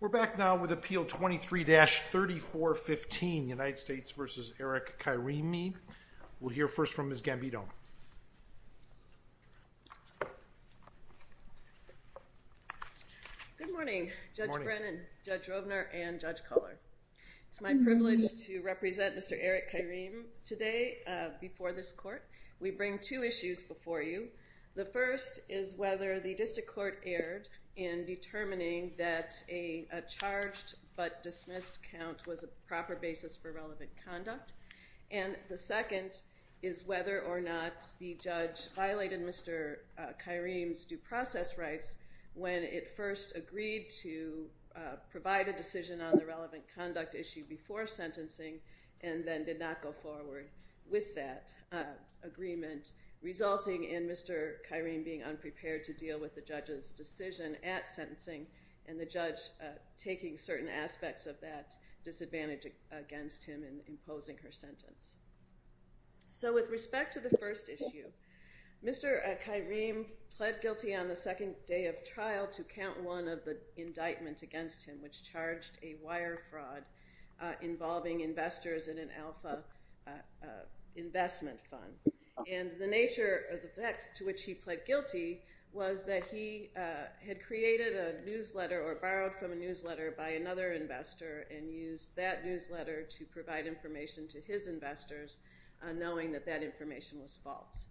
We're back now with Appeal 23-3415, United States v. Eric Kyereme. We'll hear first from Ms. Gambino. Good morning, Judge Brennan, Judge Rovner, and Judge Kohler. It's my privilege to represent Mr. Eric Kyereme today before this court. We bring two issues before you. The first is whether the district court erred in determining that a charged-but-dismissed count was a proper basis for relevant conduct. And the second is whether or not the judge violated Mr. Kyereme's due process rights when it first agreed to provide a decision on the relevant conduct issue before sentencing and then did not go forward with that agreement, resulting in Mr. Kyereme being unprepared to deal with the judge's decision at sentencing and the judge taking certain aspects of that disadvantage against him in imposing her sentence. So with respect to the first issue, Mr. Kyereme pled guilty on the second day of trial to count one of the indictments against him, which charged a wire fraud involving investors in an alpha investment fund. And the nature of the facts to which he pled guilty was that he had created a newsletter or borrowed from a newsletter by another investor and used that newsletter to provide information to his investors, knowing that that information was false.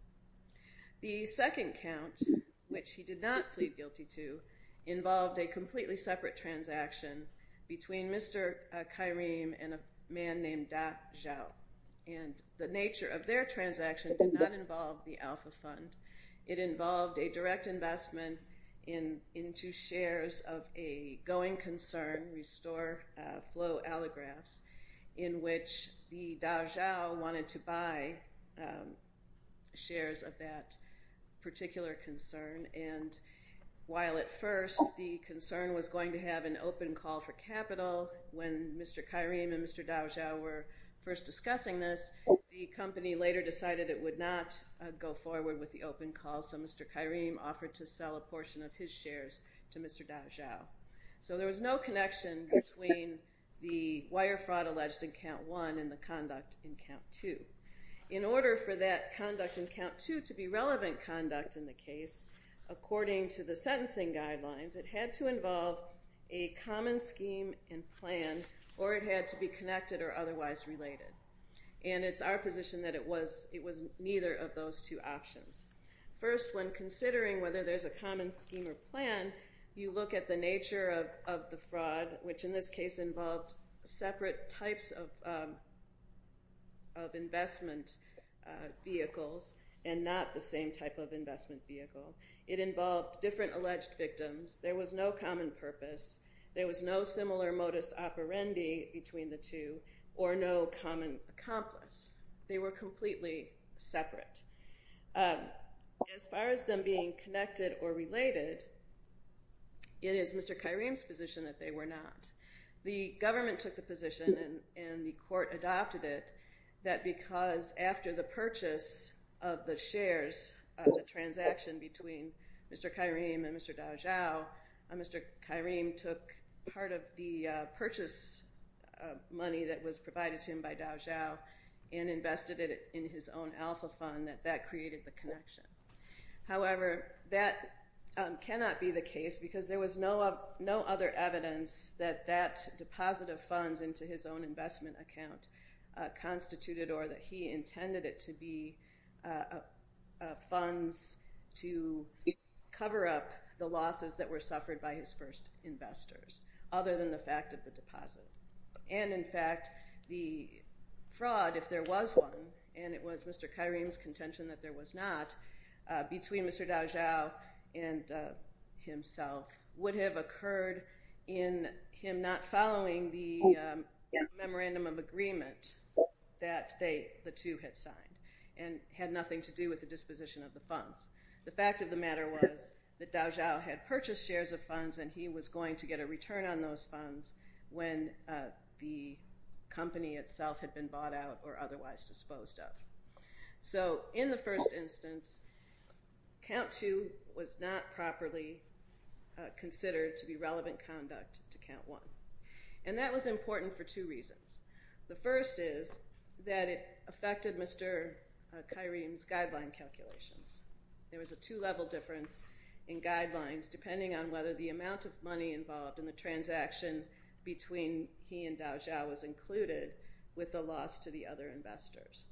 The second count, which he did not plead guilty to, involved a completely separate transaction between Mr. Kyereme and a man named Da Zhao. And the nature of their transaction did not involve the alpha fund. It involved a direct investment into shares of a going concern, Restore Flow Allographs, in which the Da Zhao wanted to buy shares of that particular concern. And while at first the concern was going to have an open call for capital, when Mr. Kyereme and Mr. Da Zhao were first discussing this, the company later decided it would not go forward with the open call, so Mr. Kyereme offered to sell a portion of his shares to Mr. Da Zhao. So there was no connection between the wire fraud alleged in count one and the conduct in count two. In order for that conduct in count two to be relevant conduct in the case, according to the sentencing guidelines, it had to involve a common scheme and plan, or it had to be connected or otherwise related. And it's our position that it was neither of those two options. First, when considering whether there's a common scheme or plan, you look at the nature of the fraud, which in this case involved separate types of investment vehicles and not the same type of investment vehicle. It involved different alleged victims. There was no common purpose. There was no similar modus operandi between the two or no common accomplice. They were completely separate. As far as them being connected or related, it is Mr. Kyereme's position that they were not. The government took the position and the court adopted it, that because after the purchase of the shares, the transaction between Mr. Kyereme and Mr. Da Zhao, Mr. Kyereme took part of the purchase money that was provided to him by Da Zhao and invested it in his own alpha fund, that that created the connection. However, that cannot be the case because there was no other evidence that that deposit of funds into his own investment account constituted or that he intended it to be funds to cover up the losses that were suffered by his first investors, other than the fact of the deposit. And, in fact, the fraud, if there was one, and it was Mr. Kyereme's contention that there was not, between Mr. Da Zhao and himself would have occurred in him not following the memorandum of agreement that the two had signed and had nothing to do with the disposition of the funds. The fact of the matter was that Da Zhao had purchased shares of funds and he was going to get a return on those funds when the company itself had been bought out or otherwise disposed of. So in the first instance, count two was not properly considered to be relevant conduct to count one. And that was important for two reasons. The first is that it affected Mr. Kyereme's guideline calculations. There was a two-level difference in guidelines depending on whether the amount of money involved in the transaction between he and Da Zhao was included with the loss to the other investors.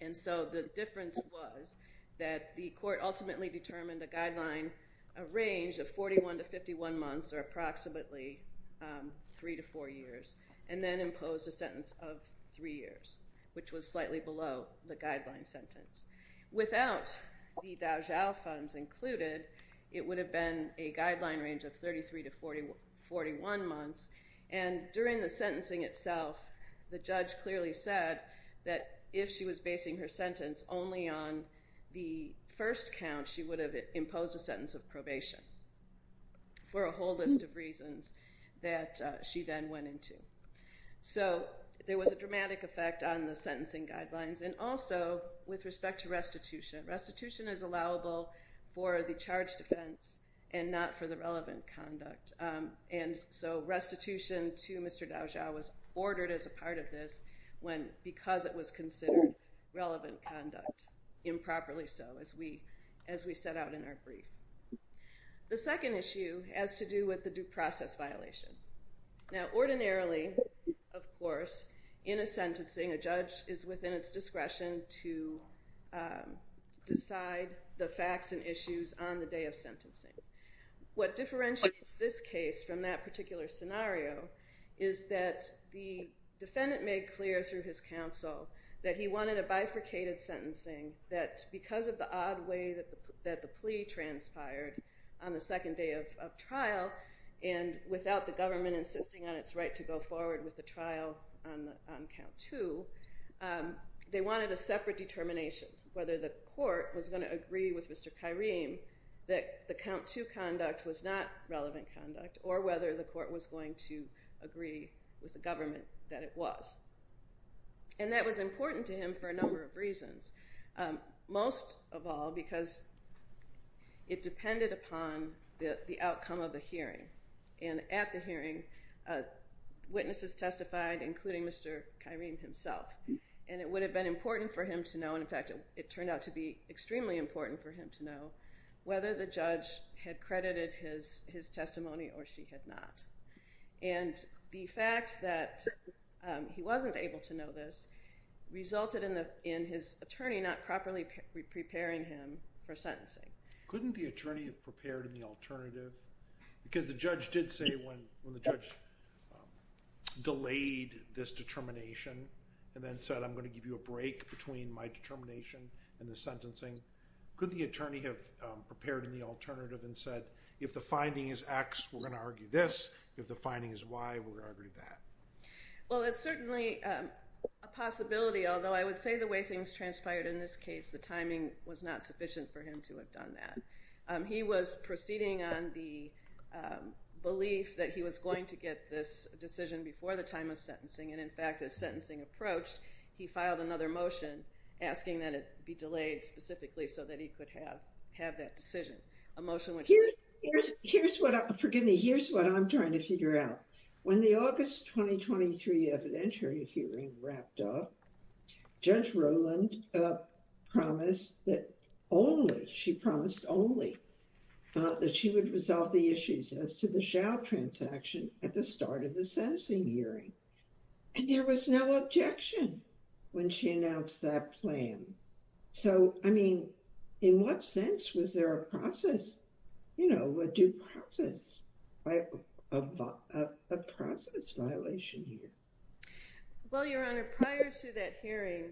And so the difference was that the court ultimately determined a guideline, a range of 41 to 51 months or approximately three to four years, and then imposed a sentence of three years, which was slightly below the guideline sentence. Without the Da Zhao funds included, it would have been a guideline range of 33 to 41 months. And during the sentencing itself, the judge clearly said that if she was basing her sentence only on the first count, she would have imposed a sentence of probation for a whole list of reasons that she then went into. So there was a dramatic effect on the sentencing guidelines. And also with respect to restitution, restitution is allowable for the charged offense and not for the relevant conduct. And so restitution to Mr. Da Zhao was ordered as a part of this because it was considered relevant conduct, improperly so, as we set out in our brief. The second issue has to do with the due process violation. Now ordinarily, of course, in a sentencing, a judge is within its discretion to decide the facts and issues on the day of sentencing. What differentiates this case from that particular scenario is that the defendant made clear through his counsel that he wanted a bifurcated sentencing, that because of the odd way that the plea transpired on the second day of trial and without the government insisting on its right to go forward with the trial on count two, they wanted a separate determination, whether the court was going to agree with Mr. Khairim that the count two conduct was not relevant conduct or whether the court was going to agree with the government that it was. And that was important to him for a number of reasons. Most of all because it depended upon the outcome of the hearing. And at the hearing, witnesses testified, including Mr. Khairim himself. And it would have been important for him to know, and in fact it turned out to be extremely important for him to know, whether the judge had credited his testimony or she had not. And the fact that he wasn't able to know this resulted in his attorney not properly preparing him for sentencing. Couldn't the attorney have prepared in the alternative? Because the judge did say when the judge delayed this determination and then said, I'm going to give you a break between my determination and the sentencing, couldn't the attorney have prepared in the alternative and said, if the finding is X, we're going to argue this. If the finding is Y, we're going to argue that. Well, it's certainly a possibility, although I would say the way things transpired in this case, the timing was not sufficient for him to have done that. He was proceeding on the belief that he was going to get this decision before the time of sentencing. And in fact, as sentencing approached, he filed another motion asking that it be delayed specifically so that he could have that decision. A motion which... Here's what, forgive me, here's what I'm trying to figure out. When the August 2023 evidentiary hearing wrapped up, Judge Rowland promised that only, she promised only that she would resolve the issues as to the shall transaction at the start of the sentencing hearing. And there was no objection when she announced that plan. So, I mean, in what sense was there a process, you know, a due process, a process violation here? Well, Your Honor, prior to that hearing,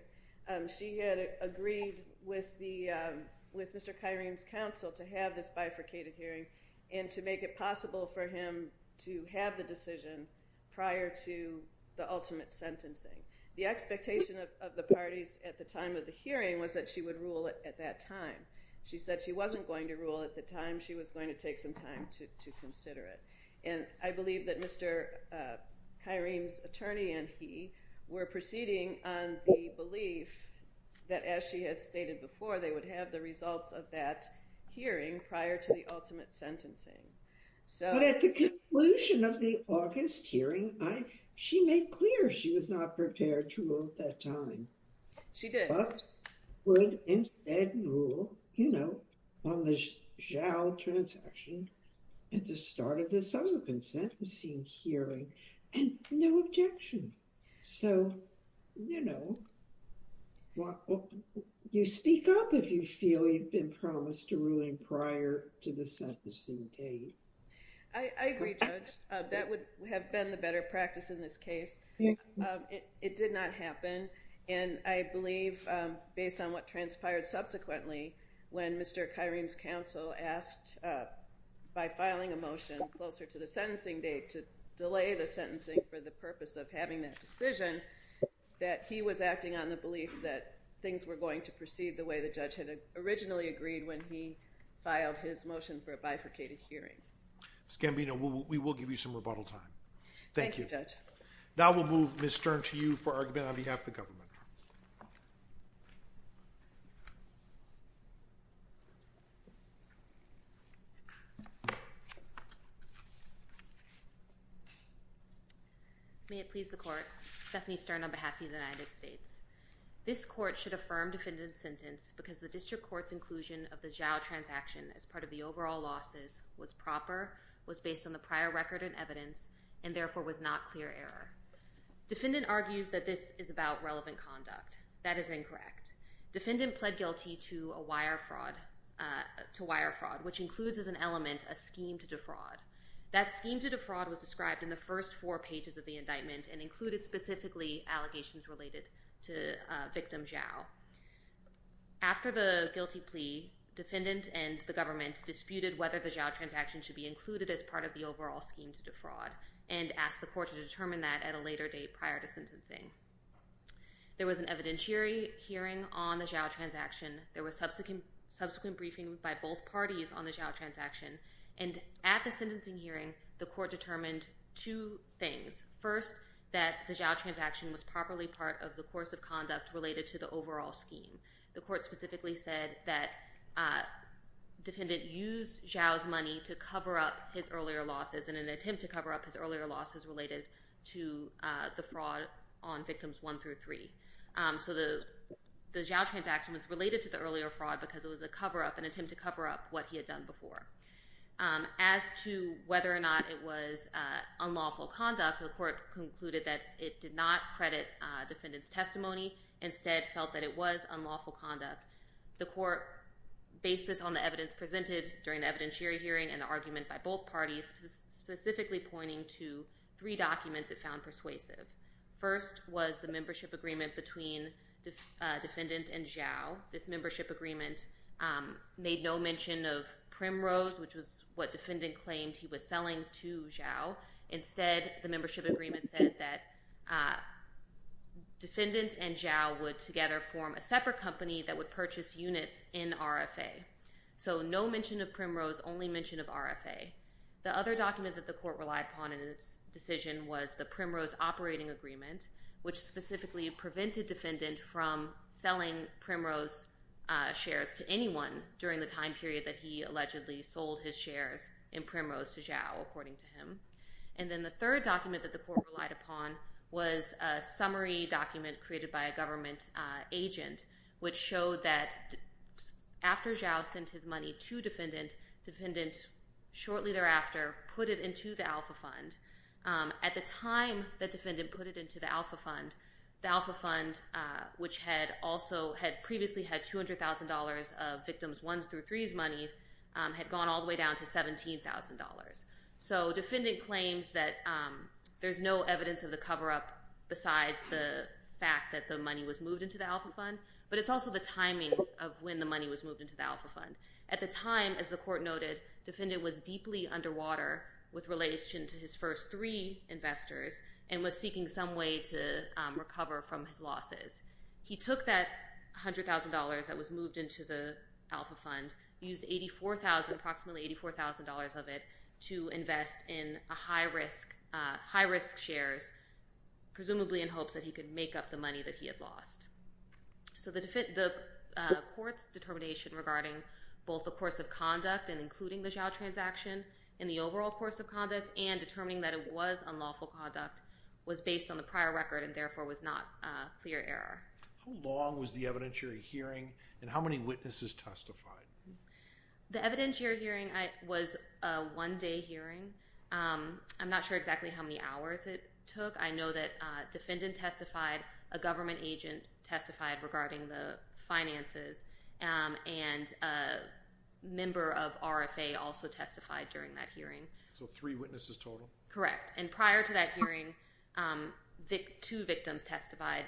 she had agreed with Mr. Kyrene's counsel to have this bifurcated hearing and to make it possible for him to have the decision prior to the ultimate sentencing. The expectation of the parties at the time of the hearing was that she would rule at that time. She said she wasn't going to rule at the time, she was going to take some time to consider it. And I believe that Mr. Kyrene's attorney and he were proceeding on the belief that, as she had stated before, they would have the results of that hearing prior to the ultimate sentencing. But at the conclusion of the August hearing, she made clear she was not prepared to rule at that time. She did. But would instead rule, you know, on the shall transaction at the start of the subsequent sentencing hearing. And no objection. So, you know, you speak up if you feel you've been promised a ruling prior to the sentencing date. I agree, Judge. That would have been the better practice in this case. It did not happen. And I believe, based on what transpired subsequently, when Mr. Kyrene's counsel asked, by filing a motion closer to the sentencing date to delay the sentencing for the purpose of having that decision, that he was acting on the belief that things were going to proceed the way the judge had originally agreed when he filed his motion for a bifurcated hearing. Ms. Gambino, we will give you some rebuttal time. Thank you. Now we'll move Ms. Stern to you for argument on behalf of the government. May it please the Court. Stephanie Stern on behalf of the United States. This court should affirm defendant's sentence because the district court's inclusion of the shall transaction as part of the overall losses was proper, was based on the prior record and evidence, and therefore was not clear error. Defendant argues that this is about relevant conduct. That is incorrect. Defendant pled guilty to a wire fraud, which includes as an element a scheme to defraud. That scheme to defraud was described in the first four pages of the indictment and included specifically allegations related to victim Zhao. After the guilty plea, defendant and the government disputed whether the Zhao transaction should be included as part of the overall scheme to defraud and asked the court to determine that at a later date prior to sentencing. There was an evidentiary hearing on the Zhao transaction. There was subsequent briefing by both parties on the Zhao transaction. And at the sentencing hearing, the court determined two things. First, that the Zhao transaction was properly part of the course of conduct related to the overall scheme. The court specifically said that defendant used Zhao's money to cover up his earlier losses in an attempt to cover up his earlier losses related to the fraud on victims one through three. So the Zhao transaction was related to the earlier fraud because it was a cover-up, an attempt to cover up what he had done before. As to whether or not it was unlawful conduct, the court concluded that it did not credit defendant's testimony, instead felt that it was unlawful conduct. The court based this on the evidence presented during the evidentiary hearing and the argument by both parties, specifically pointing to three documents it found persuasive. First was the membership agreement between defendant and Zhao. This membership agreement made no mention of primrose, which was what defendant claimed he was selling to Zhao. Instead, the membership agreement said that defendant and Zhao would together form a separate company that would purchase units in RFA. So no mention of primrose, only mention of RFA. The other document that the court relied upon in its decision was the primrose operating agreement, which specifically prevented defendant from selling primrose shares to anyone during the time period that he allegedly sold his shares in primrose to Zhao, according to him. And then the third document that the court relied upon was a summary document created by a government agent, which showed that after Zhao sent his money to defendant, defendant shortly thereafter put it into the alpha fund. At the time that defendant put it into the alpha fund, the alpha fund, which had previously had $200,000 of victims' ones through threes money, had gone all the way down to $17,000. So defendant claims that there's no evidence of the cover-up besides the fact that the money was moved into the alpha fund, but it's also the timing of when the money was moved into the alpha fund. At the time, as the court noted, defendant was deeply underwater with relation to his first three investors and was seeking some way to recover from his losses. He took that $100,000 that was moved into the alpha fund, used approximately $84,000 of it to invest in high-risk shares, presumably in hopes that he could make up the money that he had lost. So the court's determination regarding both the course of conduct and including the Zhao transaction in the overall course of conduct and determining that it was unlawful conduct was based on the prior record and therefore was not clear error. How long was the evidentiary hearing and how many witnesses testified? The evidentiary hearing was a one-day hearing. I'm not sure exactly how many hours it took. I know that defendant testified, a government agent testified regarding the finances, and a member of RFA also testified during that hearing. So three witnesses total? Correct, and prior to that hearing, two victims testified.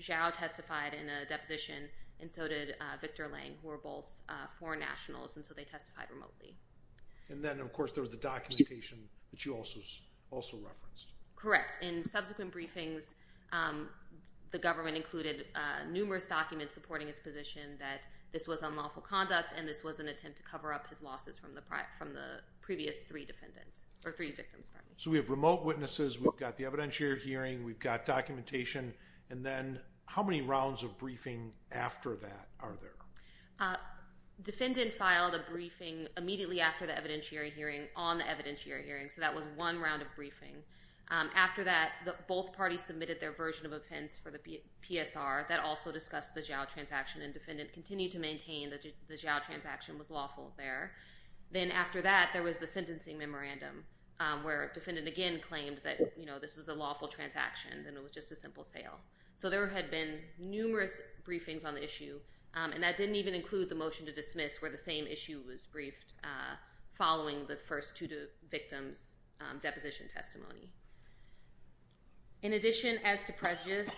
Zhao testified in a deposition, and so did Victor Lang, who were both foreign nationals, and so they testified remotely. And then, of course, there was the documentation that you also referenced. Correct. In subsequent briefings, the government included numerous documents supporting its position that this was unlawful conduct and this was an attempt to cover up his losses from the previous three victims. So we have remote witnesses, we've got the evidentiary hearing, we've got documentation, and then how many rounds of briefing after that are there? Defendant filed a briefing immediately after the evidentiary hearing on the evidentiary hearing, so that was one round of briefing. After that, both parties submitted their version of offense for the PSR. That also discussed the Zhao transaction, and defendant continued to maintain that the Zhao transaction was lawful there. Then after that, there was the sentencing memorandum, where defendant again claimed that this was a lawful transaction and it was just a simple sale. So there had been numerous briefings on the issue, and that didn't even include the motion to dismiss where the same issue was briefed following the first two victims' deposition testimony. In addition, as to prejudice,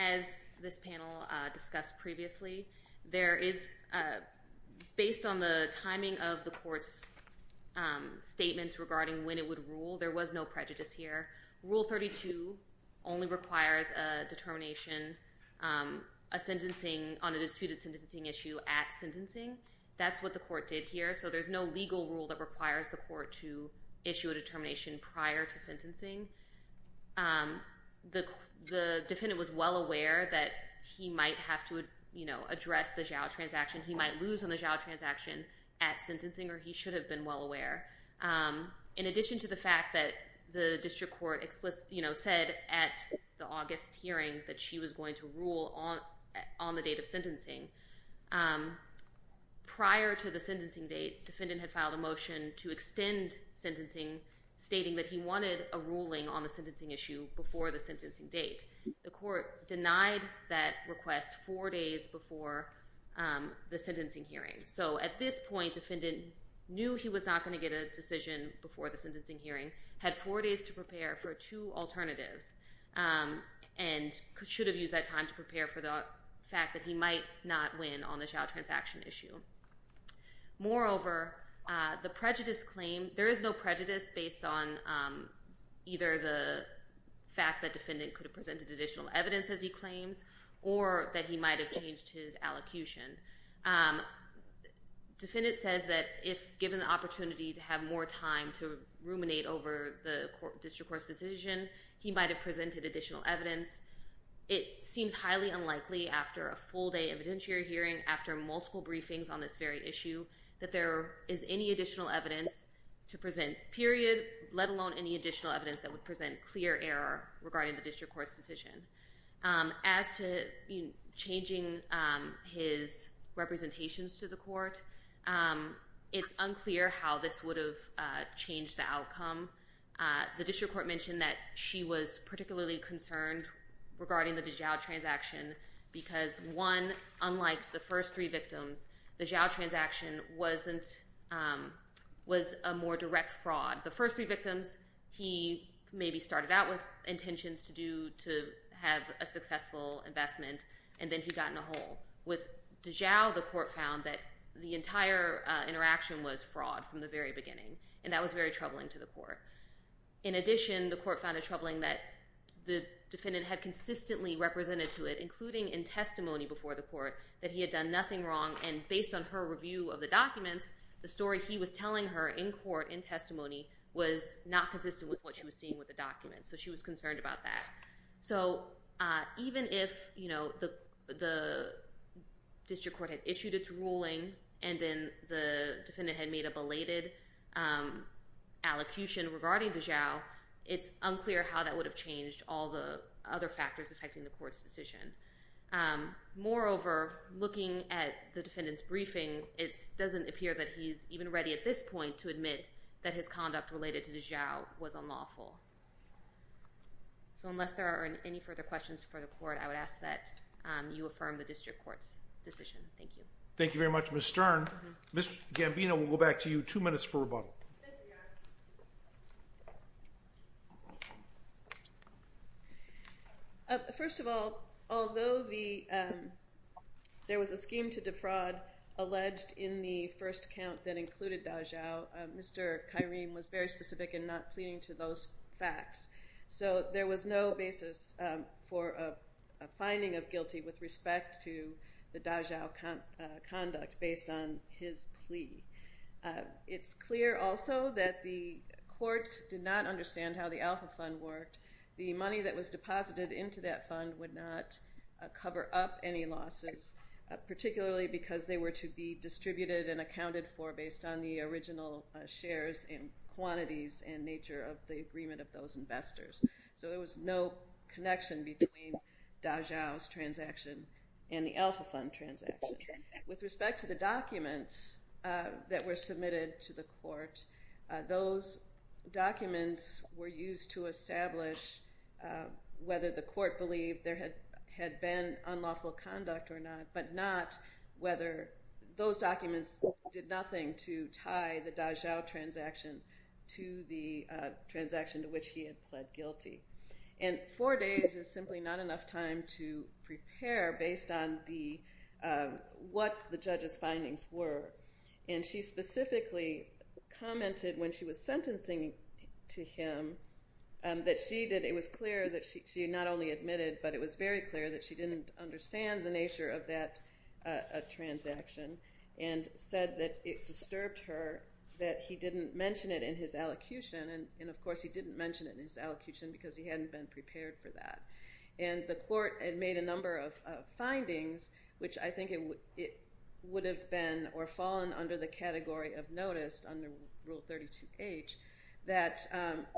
as this panel discussed previously, based on the timing of the court's statements regarding when it would rule, there was no prejudice here. Rule 32 only requires a determination on a disputed sentencing issue at sentencing. That's what the court did here, so there's no legal rule that requires the court to issue a determination prior to sentencing. The defendant was well aware that he might have to address the Zhao transaction. He might lose on the Zhao transaction at sentencing, or he should have been well aware. In addition to the fact that the district court said at the August hearing that she was going to rule on the date of sentencing, prior to the sentencing date, defendant had filed a motion to extend sentencing, stating that he wanted a ruling on the sentencing issue before the sentencing date. The court denied that request four days before the sentencing hearing. So at this point, defendant knew he was not going to get a decision before the sentencing hearing, had four days to prepare for two alternatives, and should have used that time to prepare for the fact that he might not win on the Zhao transaction issue. Moreover, the prejudice claim, there is no prejudice based on either the fact that defendant could have presented additional evidence, as he claims, or that he might have changed his allocution. Defendant says that if given the opportunity to have more time to ruminate over the district court's decision, he might have presented additional evidence. It seems highly unlikely after a full day evidentiary hearing, after multiple briefings on this very issue, that there is any additional evidence to present, period, let alone any additional evidence that would present clear error regarding the district court's decision. As to changing his representations to the court, it's unclear how this would have changed the outcome. The district court mentioned that she was particularly concerned regarding the Zhao transaction because one, unlike the first three victims, the Zhao transaction was a more direct fraud. The first three victims, he maybe started out with intentions to have a successful investment, and then he got in a hole. With Zhao, the court found that the entire interaction was fraud from the very beginning, and that was very troubling to the court. In addition, the court found it troubling that the defendant had consistently represented to it, including in testimony before the court, that he had done nothing wrong, and based on her review of the documents, the story he was telling her in court, in testimony, was not consistent with what she was seeing with the documents. So she was concerned about that. So even if the district court had issued its ruling, and then the defendant had made a belated allocution regarding the Zhao, it's unclear how that would have changed all the other factors affecting the court's decision. Moreover, looking at the defendant's briefing, it doesn't appear that he's even ready at this point to admit that his conduct related to the Zhao was unlawful. So unless there are any further questions for the court, I would ask that you affirm the district court's decision. Thank you. Thank you very much, Ms. Stern. Ms. Gambino, we'll go back to you. Two minutes for rebuttal. First of all, although there was a scheme to defraud alleged in the first count that included the Zhao, Mr. Kyrene was very specific in not pleading to those facts. So there was no basis for a finding of guilty with respect to the Zhao conduct based on his plea. It's clear also that the court did not understand how the Alpha Fund worked. The money that was deposited into that fund would not cover up any losses, particularly because they were to be distributed and accounted for based on the original shares and quantities and nature of the agreement of those investors. So there was no connection between Da Zhao's transaction and the Alpha Fund transaction. With respect to the documents that were submitted to the court, those documents were used to establish whether the court believed there had been unlawful conduct or not, but not whether those documents did nothing to tie the Da Zhao transaction to the transaction to which he had pled guilty. And four days is simply not enough time to prepare based on what the judge's findings were. And she specifically commented when she was sentencing to him that she had not only admitted, but it was very clear that she didn't understand the nature of that transaction and said that it disturbed her that he didn't mention it in his elocution. And, of course, he didn't mention it in his elocution because he hadn't been prepared for that. And the court had made a number of findings, which I think it would have been or fallen under the category of noticed under Rule 32H, that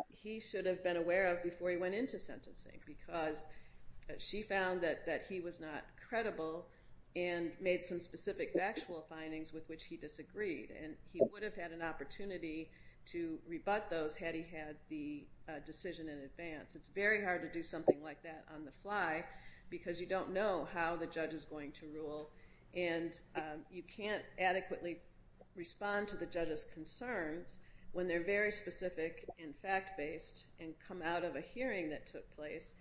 he should have been aware of before he went into sentencing because she found that he was not credible and made some specific factual findings with which he disagreed. And he would have had an opportunity to rebut those had he had the decision in advance. It's very hard to do something like that on the fly because you don't know how the judge is going to rule, and you can't adequately respond to the judge's concerns when they're very specific and fact-based and come out of a hearing that took place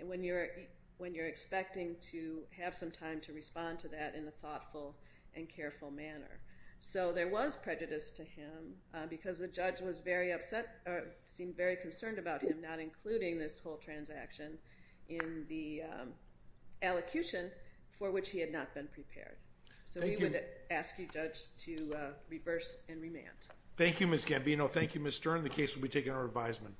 and when you're expecting to have some time to respond to that in a thoughtful and careful manner. So there was prejudice to him because the judge was very upset or seemed very concerned about him not including this whole transaction in the elocution for which he had not been prepared. So we would ask you, Judge, to reverse and remand. Thank you, Ms. Gambino. Thank you, Ms. Stern. The case will be taken to our advisement.